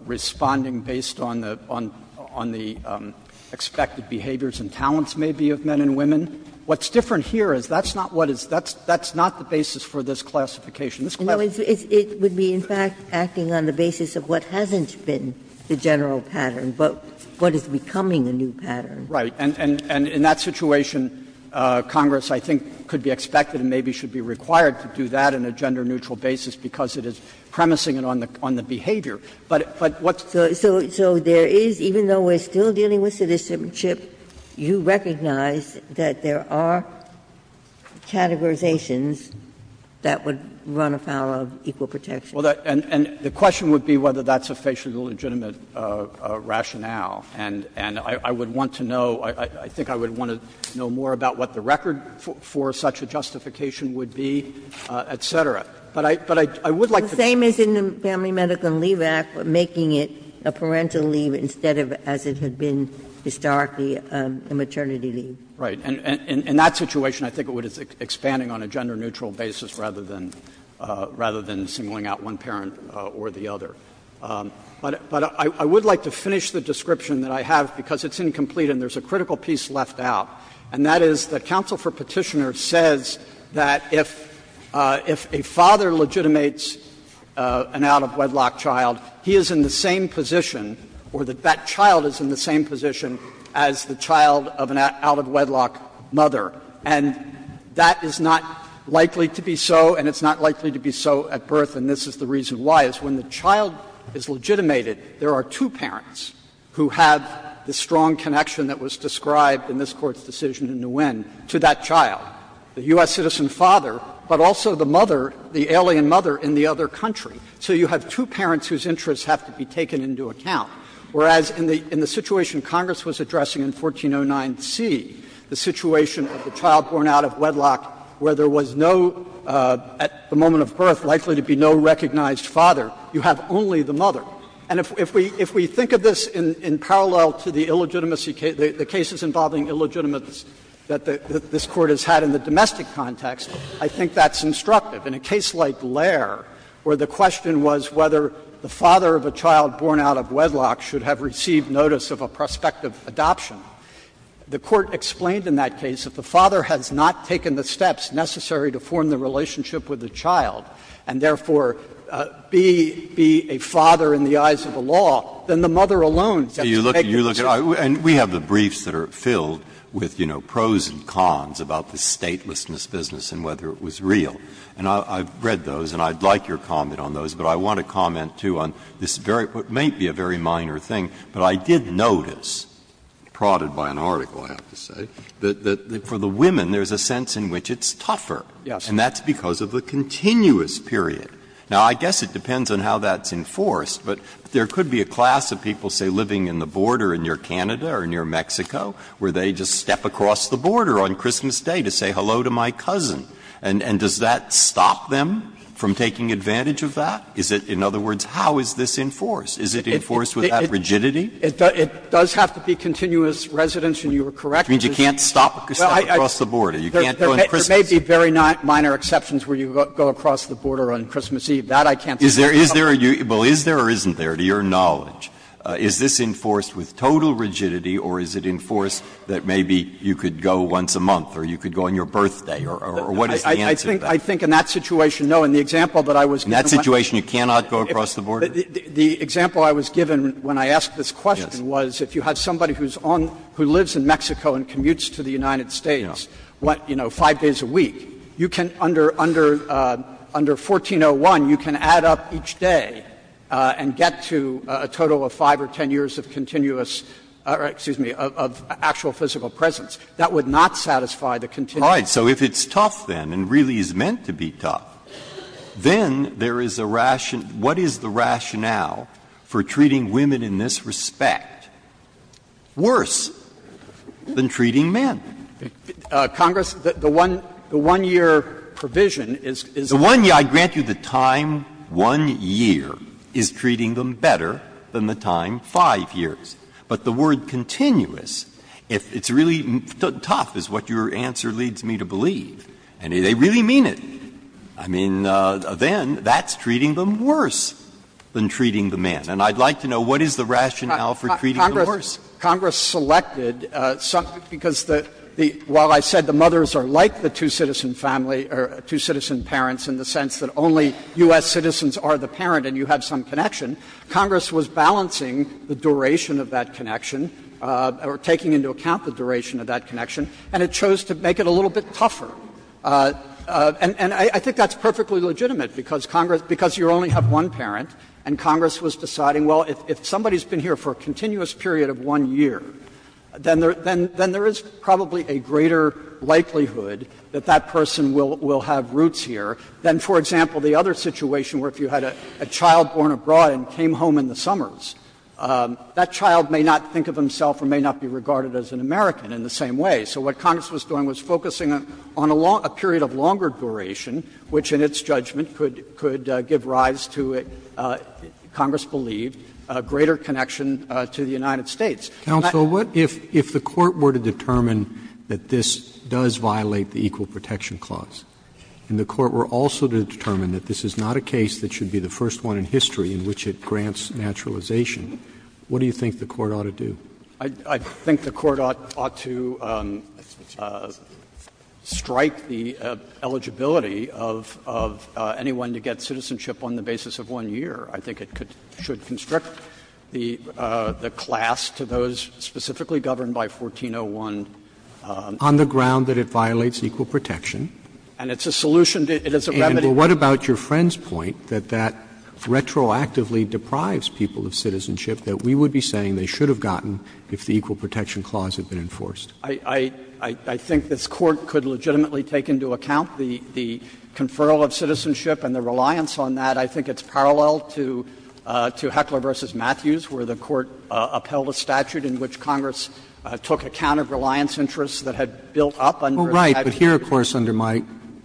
responding based on the expected behaviors and talents, maybe, of men and women. What's different here is that's not what is — that's not the basis for this classification. This class— Ginsburg, it would be, in fact, acting on the basis of what hasn't been the general pattern, but what is becoming a new pattern. Kneedler, Right. And in that situation, Congress, I think, could be expected and maybe should be required to do that in a gender-neutral basis, because it is premising on the behavior. But what's— Ginsburg, so there is, even though we're still dealing with citizenship, you recognize that there are categorizations that would run afoul of equal protection. Kneedler, and the question would be whether that's a facially legitimate rationale. And I would want to know, I think I would want to know more about what the record for such a justification would be, et cetera. But I would like to— Ginsburg, the same is in the Family Medical Leave Act, making it a parental leave instead of, as it had been historically, a maternity leave. Kneedler, Right. And in that situation, I think it would be expanding on a gender-neutral basis rather than singling out one parent or the other. But I would like to finish the description that I have, because it's incomplete and there's a critical piece left out. And that is that counsel for Petitioner says that if a father legitimates an out-of-wedlock child, he is in the same position or that that child is in the same position as the child of an out-of-wedlock mother. And that is not likely to be so, and it's not likely to be so at birth, and this is the reason why, is when the child is legitimated, there are two parents who have the strong connection that was described in this Court's decision in Nguyen to that child, the U.S. citizen father, but also the mother, the alien mother in the other country. So you have two parents whose interests have to be taken into account, whereas in the situation Congress was addressing in 1409c, the situation of the child born out-of-wedlock where there was no, at the moment of birth, likely to be no recognized father, you have only the mother. And if we think of this in parallel to the illegitimacy case, the cases involving illegitimates that this Court has had in the domestic context, I think that's instructive. In a case like Lair, where the question was whether the father of a child born out-of-wedlock should have received notice of a prospective adoption, the Court explained in that case that the father has not taken the steps necessary to form the relationship with the child and, therefore, be a father in the eyes of the law, then the mother alone has to take the steps necessary. Breyer. And we have the briefs that are filled with, you know, pros and cons about the statelessness business and whether it was real. And I've read those and I'd like your comment on those, but I want to comment too on this very, what may be a very minor thing, but I did notice, prodded by an article, I have to say, that for the women there's a sense in which it's tougher. Yes. Breyer. And that's because of the continuous period. Now, I guess it depends on how that's enforced, but there could be a class of people, say, living in the border near Canada or near Mexico, where they just step across the border on Christmas Day to say hello to my cousin. And does that stop them from taking advantage of that? Is it, in other words, how is this enforced? Is it enforced with that rigidity? It does have to be continuous residence, and you are correct. You can't go on Christmas. There may be very minor exceptions where you go across the border on Christmas Eve. That I can't think of. Is there or isn't there, to your knowledge, is this enforced with total rigidity or is it enforced that maybe you could go once a month or you could go on your birthday or what is the answer to that? I think in that situation, no. In the example that I was given. In that situation, you cannot go across the border? The example I was given when I asked this question was if you had somebody who's on, who lives in Mexico and commutes to the United States, what, you know, 5 days a week, you can, under 1401, you can add up each day and get to a total of 5 or 10 years of continuous, or excuse me, of actual physical presence. That would not satisfy the continuous. Breyer. So if it's tough, then, and really is meant to be tough, then there is a ration what is the rationale for treating women in this respect? Worse than treating men. Congress, the one-year provision is. The one year, I grant you the time one year is treating them better than the time 5 years. But the word continuous, if it's really tough is what your answer leads me to believe, and they really mean it. I mean, then that's treating them worse than treating the men. And I'd like to know what is the rationale for treating them worse. Congress selected some, because the, while I said the mothers are like the two-citizen family, or two-citizen parents in the sense that only U.S. citizens are the parent and you have some connection, Congress was balancing the duration of that connection, or taking into account the duration of that connection, and it chose to make it a little bit tougher. And I think that's perfectly legitimate, because Congress, because you only have one parent, and Congress was deciding, well, if somebody has been here for a continuous period of one year, then there is probably a greater likelihood that that person will have roots here than, for example, the other situation where if you had a child born abroad and came home in the summers, that child may not think of himself or may not be regarded as an American in the same way. So what Congress was doing was focusing on a period of longer duration, which in its judgment could give rise to, Congress believed, a greater connection to the United States. Roberts, if the Court were to determine that this does violate the Equal Protection Clause, and the Court were also to determine that this is not a case that should be the first one in history in which it grants naturalization, what do you think the Court ought to do? I think the Court ought to strike the eligibility of anyone to get citizenship on the basis of one year. I think it should constrict the class to those specifically governed by 1401. On the ground that it violates equal protection. And it's a solution. It is a remedy. And what about your friend's point that that retroactively deprives people of citizenship, that we would be saying they should have gotten if the Equal Protection Clause had been enforced? I think this Court could legitimately take into account the conferral of citizenship and the reliance on that. I think it's parallel to Heckler v. Matthews, where the Court upheld a statute in which Congress took account of reliance interests that had built up under the statute. Well, right. But here, of course, under my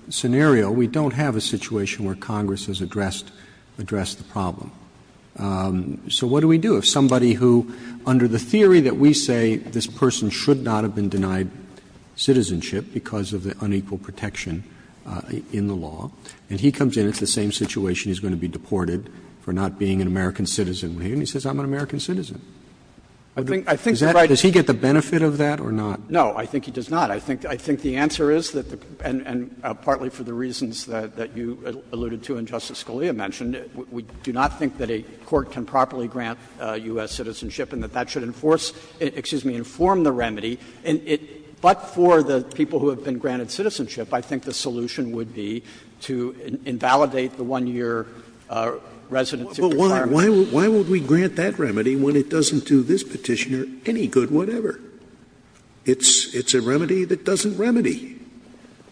scenario, we don't have a situation where Congress has addressed the problem. So what do we do? If somebody who, under the theory that we say this person should not have been denied citizenship because of the unequal protection in the law, and he comes in, it's the same situation, he's going to be deported for not being an American citizen. And he says, I'm an American citizen. Does he get the benefit of that or not? No, I think he does not. I think the answer is that the — and partly for the reasons that you alluded to and Justice Scalia mentioned, we do not think that a court can properly grant U.S. citizenship and that that should enforce — excuse me, inform the remedy. But for the people who have been granted citizenship, I think the solution would be to invalidate the 1-year residency requirement. Scalia. Well, why would we grant that remedy when it doesn't do this Petitioner any good whatever? It's a remedy that doesn't remedy.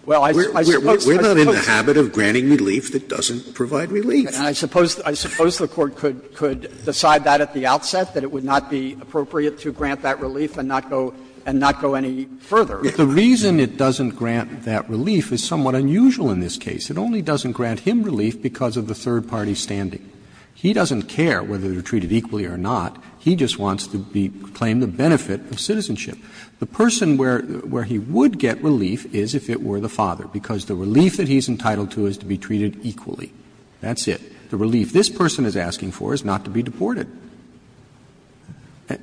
Well, I suppose I could say that. It's granting relief that doesn't provide relief. And I suppose the Court could decide that at the outset, that it would not be appropriate to grant that relief and not go any further. The reason it doesn't grant that relief is somewhat unusual in this case. It only doesn't grant him relief because of the third party's standing. He doesn't care whether they're treated equally or not. He just wants to claim the benefit of citizenship. The person where he would get relief is if it were the father, because the relief that he's entitled to is to be treated equally. That's it. The relief this person is asking for is not to be deported.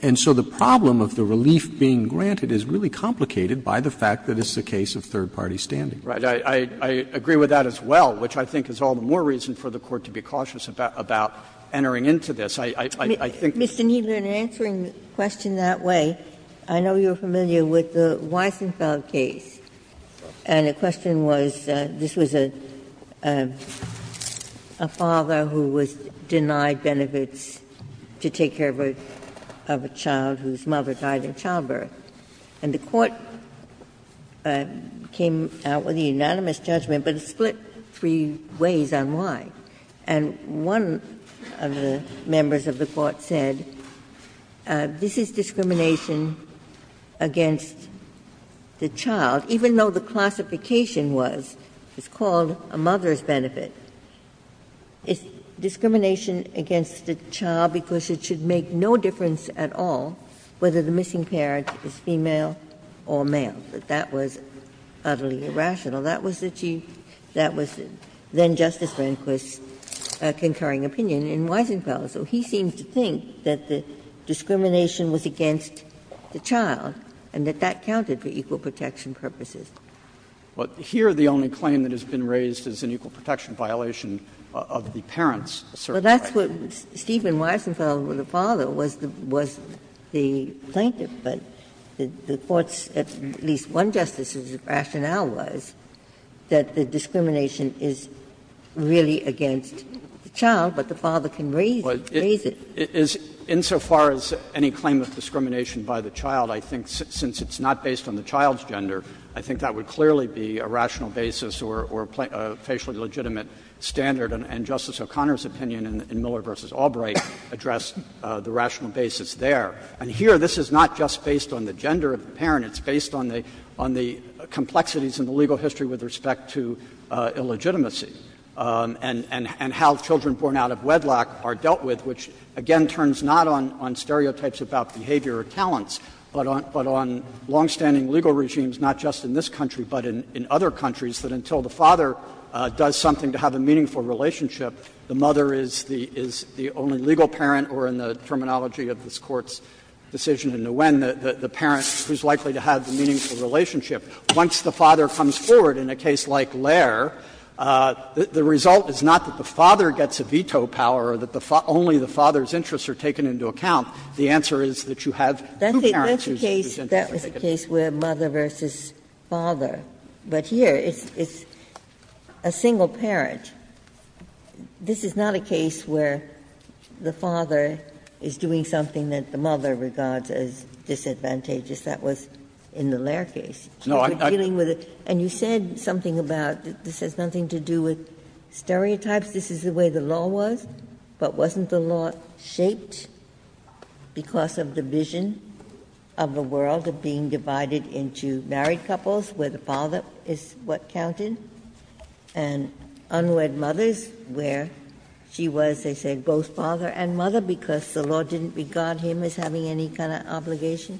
And so the problem of the relief being granted is really complicated by the fact that this is a case of third party standing. Right. I agree with that as well, which I think is all the more reason for the Court to be cautious about entering into this. I think that's what I'm saying. Mr. Kneedler, in answering the question that way, I know you're familiar with the Weisenfeld case. And the question was, this was a father who was denied benefits to take care of a child whose mother died in childbirth. And the Court came out with a unanimous judgment, but it split three ways on why. And one of the members of the Court said, this is discrimination against the child even though the classification was, it's called a mother's benefit, it's discrimination against the child because it should make no difference at all whether the missing parent is female or male, that that was utterly irrational. That was then Justice Rehnquist's concurring opinion in Weisenfeld. So he seems to think that the discrimination was against the child and that that was intended for equal protection purposes. Kneedler, Well, here the only claim that has been raised is an equal protection violation of the parent's certain rights. Ginsburg, Well, that's what Stephen Weisenfeld, the father, was the plaintiff. But the Court's, at least one justice's rationale was that the discrimination is really against the child, but the father can raise it. Kneedler, Well, insofar as any claim of discrimination by the child, I think since it's not based on the child's gender, I think that would clearly be a rational basis or a facially legitimate standard. And Justice O'Connor's opinion in Miller v. Albright addressed the rational basis there. And here this is not just based on the gender of the parent, it's based on the complexities in the legal history with respect to illegitimacy and how children born out of wedlock are dealt with, which again turns not on stereotypes about behavior or talents, but on longstanding legal regimes, not just in this country, but in other countries, that until the father does something to have a meaningful relationship, the mother is the only legal parent or, in the terminology of this Court's decision in Nguyen, the parent who is likely to have the meaningful relationship. Once the father comes forward in a case like Lair, the result is not that the father gets a veto power or that only the father's interests are taken into account. The answer is that you have two parents who present as if they could. Ginsburg-Miller That's a case where mother versus father. But here it's a single parent. This is not a case where the father is doing something that the mother regards as disadvantageous. That was in the Lair case. And you said something about this has nothing to do with stereotypes. This is the way the law was, but wasn't the law shaped? Because of the vision of the world of being divided into married couples, where the father is what counted, and unwed mothers, where she was, they said, both father and mother, because the law didn't regard him as having any kind of obligation?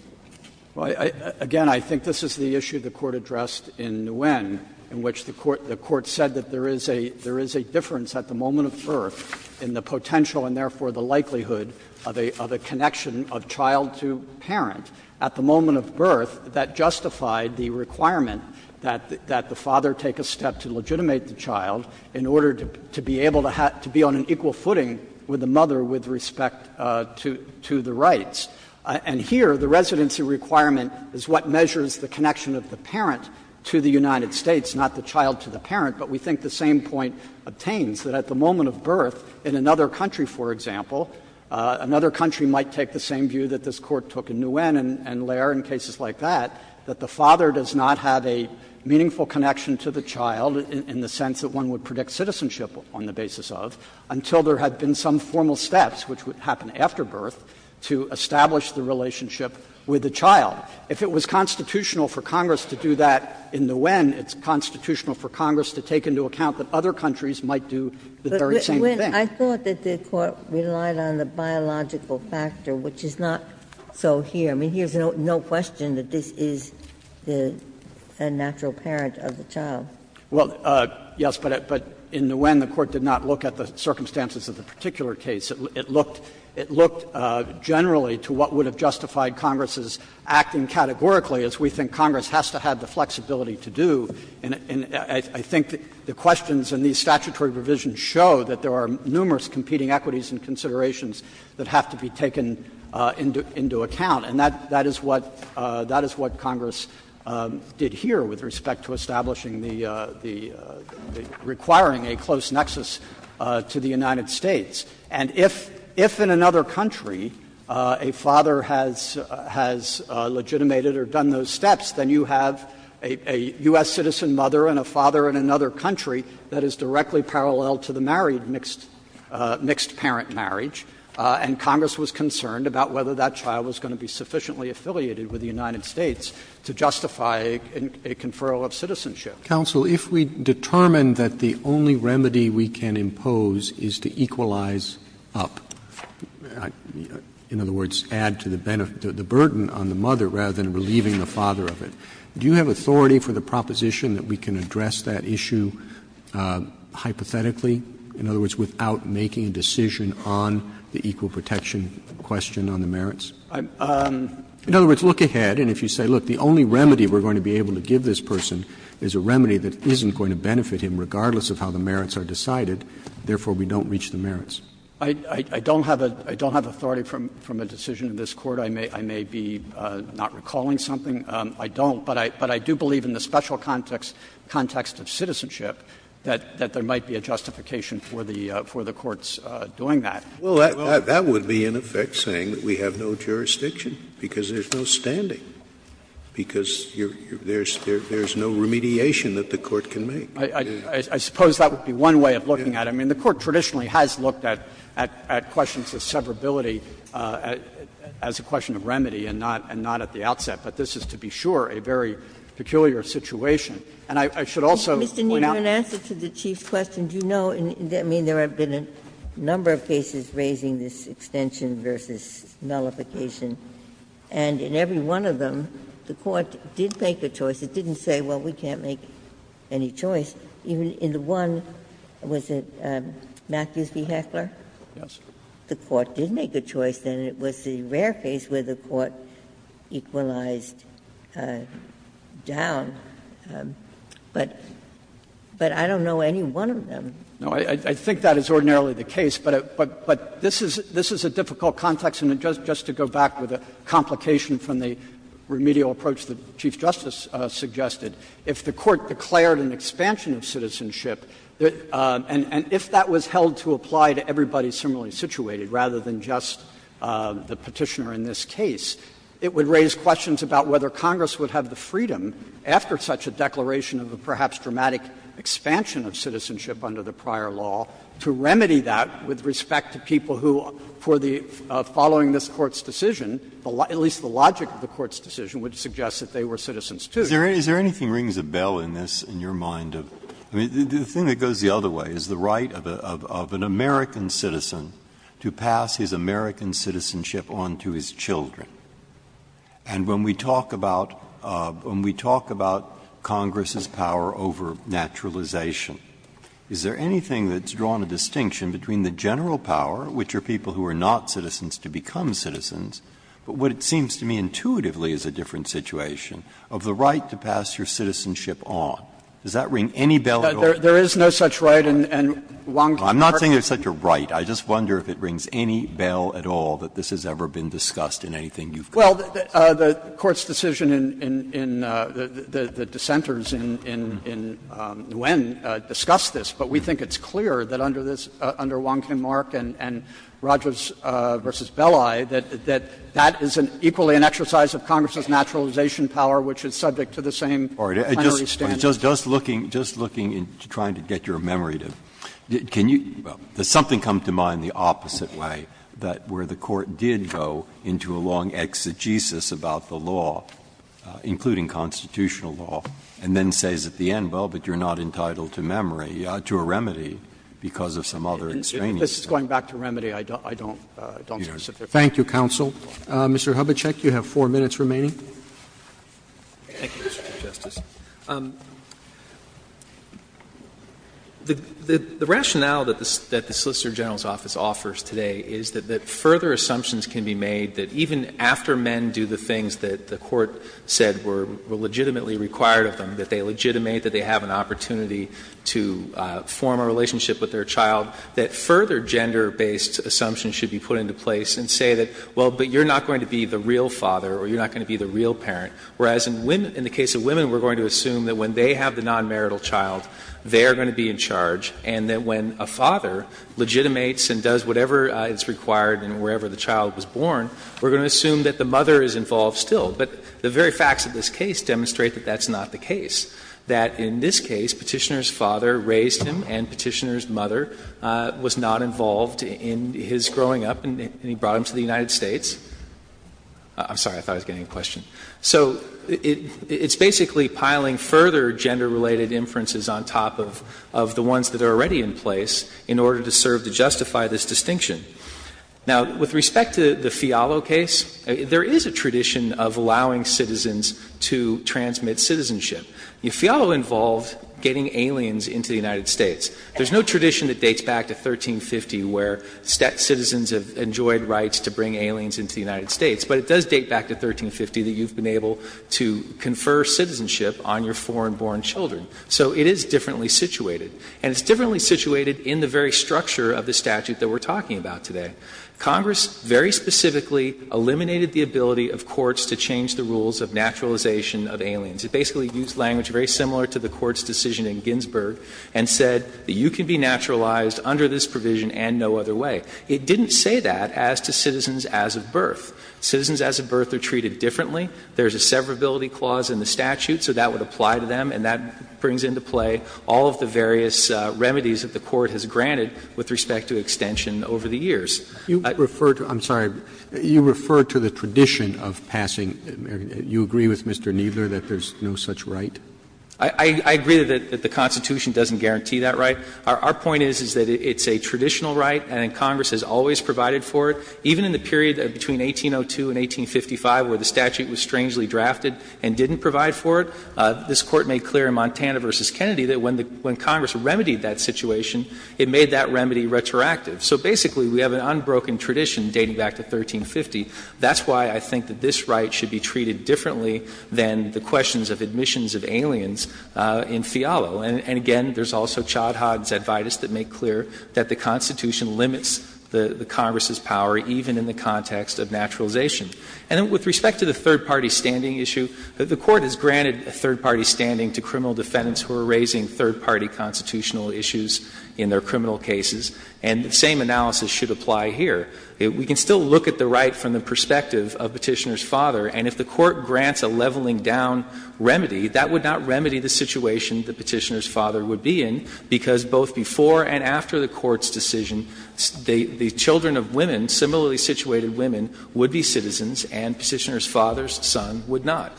Kneedler Again, I think this is the issue the Court addressed in Nguyen, in which the Court said that there is a difference at the moment of birth in the potential and, therefore, the likelihood of a connection of child to parent. At the moment of birth, that justified the requirement that the father take a step to legitimate the child in order to be able to be on an equal footing with the mother with respect to the rights. And here, the residency requirement is what measures the connection of the parent to the United States, not the child to the parent. But we think the same point obtains, that at the moment of birth, in another country, for example, another country might take the same view that this Court took in Nguyen and Laird in cases like that, that the father does not have a meaningful connection to the child in the sense that one would predict citizenship on the basis of, until there had been some formal steps, which would happen after birth, to establish the relationship with the child. If it was constitutional for Congress to do that in Nguyen, it's constitutional for Congress to take into account that other countries might do the very same thing. Ginsburg. But, Nguyen, I thought that the Court relied on the biological factor, which is not so here. I mean, here's no question that this is the natural parent of the child. Well, yes, but in Nguyen, the Court did not look at the circumstances of the particular case. It looked generally to what would have justified Congress's acting categorically, as we think Congress has to have the flexibility to do. And I think the questions in these statutory provisions show that there are numerous competing equities and considerations that have to be taken into account. And that is what Congress did here with respect to establishing the — requiring a close nexus to the United States. And if in another country a father has legitimated or done those steps, then you have a U.S. citizen mother and a father in another country that is directly parallel to the married mixed parent marriage. And Congress was concerned about whether that child was going to be sufficiently affiliated with the United States to justify a conferral of citizenship. Roberts Counsel, if we determine that the only remedy we can impose is to equalize up, in other words, add to the burden on the mother rather than relieving the father of it, do you have authority for the proposition that we can address that issue hypothetically, in other words, without making a decision on the equal protection question on the merits? In other words, look ahead, and if you say, look, the only remedy we're going to be benefit him regardless of how the merits are decided, therefore, we don't reach the merits. I don't have authority from a decision in this Court. I may be not recalling something. I don't. But I do believe in the special context of citizenship that there might be a justification for the courts doing that. Well, that would be in effect saying that we have no jurisdiction, because there's no standing, because there's no remediation that the Court can make. I suppose that would be one way of looking at it. I mean, the Court traditionally has looked at questions of severability as a question of remedy and not at the outset. But this is, to be sure, a very peculiar situation. And I should also point out. Ginsburg Mr. Kneedler, in answer to the Chief's question, do you know, I mean, there have been a number of cases raising this extension versus nullification. And in every one of them, the Court did make a choice. It didn't say, well, we can't make any choice. In the one, was it Matthews v. Heckler? Kneedler Yes. Ginsburg The Court did make a choice, and it was the rare case where the Court equalized down. But I don't know any one of them. Kneedler No, I think that is ordinarily the case, but this is a difficult context. And just to go back with a complication from the remedial approach that Chief Justice suggested, if the Court declared an expansion of citizenship, and if that was held to apply to everybody similarly situated rather than just the Petitioner in this case, it would raise questions about whether Congress would have the freedom, after such a declaration of a perhaps dramatic expansion of citizenship under the prior law, to remedy that with respect to people who, for the following this Court's decision, at least the logic of the Court's decision would suggest that they were citizens, too. Breyer Is there anything rings a bell in this, in your mind? I mean, the thing that goes the other way is the right of an American citizen to pass his American citizenship on to his children. And when we talk about Congress's power over naturalization, is there anything that's drawn a distinction between the general power, which are people who are not citizens to become citizens, but what it seems to me intuitively is a different situation, of the right to pass your citizenship on? Does that ring any bell at all? Kneedler There is no such right. And Wong, the Court's decision to pass your citizenship on to your children is a different situation. Well, the Court's decision in the dissenters in Nguyen discussed this, but we think it's clear that under this, under Wong-Kim Mark and Rogers v. Belli, that that is equally an exercise of Congress's naturalization power, which is subject to the same plenary standards. Breyer Just looking, just looking, trying to get your memory to, can you, does something come to mind the opposite way, that where the Court did go into a long exegesis about the law, including constitutional law, and then says at the end, well, but you're not entitled to memory, to a remedy because of some other experience? Kneedler This is going back to remedy. I don't, I don't, I don't specifically. Roberts Thank you, counsel. Mr. Hubachek, you have 4 minutes remaining. Hubachek Thank you, Mr. Chief Justice. The rationale that the Solicitor General's office offers today is that further assumptions can be made that even after men do the things that the Court said were legitimately required of them, that they legitimate, that they have an opportunity to form a relationship with their child, that further gender-based assumptions should be put into place and say that, well, but you're not going to be the real father or you're not going to be the real parent. Whereas in women, in the case of women, we're going to assume that when they have the non-marital child, they are going to be in charge, and that when a father legitimates and does whatever is required in wherever the child was born, we're going to assume that the mother is involved still. But the very facts of this case demonstrate that that's not the case, that in this case Petitioner's father raised him and Petitioner's mother was not involved in his growing up, and he brought him to the United States. I'm sorry, I thought I was getting a question. So it's basically piling further gender-related inferences on top of the ones that are already in place in order to serve to justify this distinction. Now, with respect to the Fialo case, there is a tradition of allowing citizens to transmit citizenship. Fialo involved getting aliens into the United States. There's no tradition that dates back to 1350 where citizens have enjoyed rights to bring aliens into the United States, but it does date back to 1350 that you've been able to confer citizenship on your foreign-born children. So it is differently situated. And it's differently situated in the very structure of the statute that we're talking about today. Congress very specifically eliminated the ability of courts to change the rules of naturalization of aliens. It basically used language very similar to the Court's decision in Ginsburg and said that you can be naturalized under this provision and no other way. It didn't say that as to citizens as of birth. Citizens as of birth are treated differently. There's a severability clause in the statute, so that would apply to them, and that brings into play all of the various remedies that the Court has granted with respect to extension over the years. Roberts. Roberts. You refer to the tradition of passing you agree with Mr. Kneedler that there's no such right? I agree that the Constitution doesn't guarantee that right. Our point is, is that it's a traditional right and Congress has always provided for it. Even in the period between 1802 and 1855 where the statute was strangely drafted and didn't provide for it, this Court made clear in Montana v. Kennedy that when Congress remedied that situation, it made that remedy retroactive. So basically, we have an unbroken tradition dating back to 1350. That's why I think that this right should be treated differently than the questions of admissions of aliens in Fialo. And again, there's also Chod-Hod's Advaitis that make clear that the Constitution limits the Congress's power even in the context of naturalization. And with respect to the third-party standing issue, the Court has granted a third-party standing to criminal defendants who are raising third-party constitutional issues in their criminal cases, and the same analysis should apply here. We can still look at the right from the perspective of Petitioner's father, and if the Court were to remedy, that would not remedy the situation that Petitioner's father would be in, because both before and after the Court's decision, the children of women, similarly situated women, would be citizens, and Petitioner's father's son would not.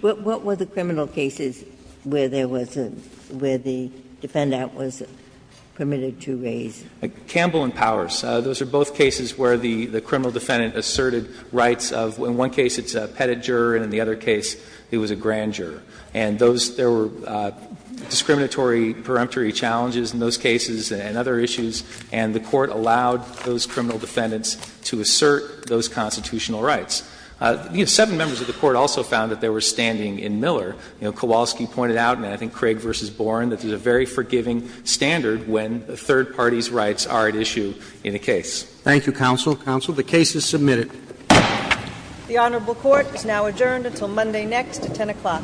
What were the criminal cases where there was a – where the defendant was permitted to raise? Campbell and Powers. Those are both cases where the criminal defendant asserted rights of – in one case it's a pettit juror, and in the other case it was a grand juror. And those – there were discriminatory, preemptory challenges in those cases and other issues, and the Court allowed those criminal defendants to assert those constitutional rights. Seven members of the Court also found that they were standing in Miller. Kowalski pointed out, and I think Craig v. Boren, that there's a very forgiving standard when third-party's rights are at issue in a case. Roberts. Thank you, counsel. Counsel, the case is submitted. The Honorable Court is now adjourned until Monday next at 10 o'clock.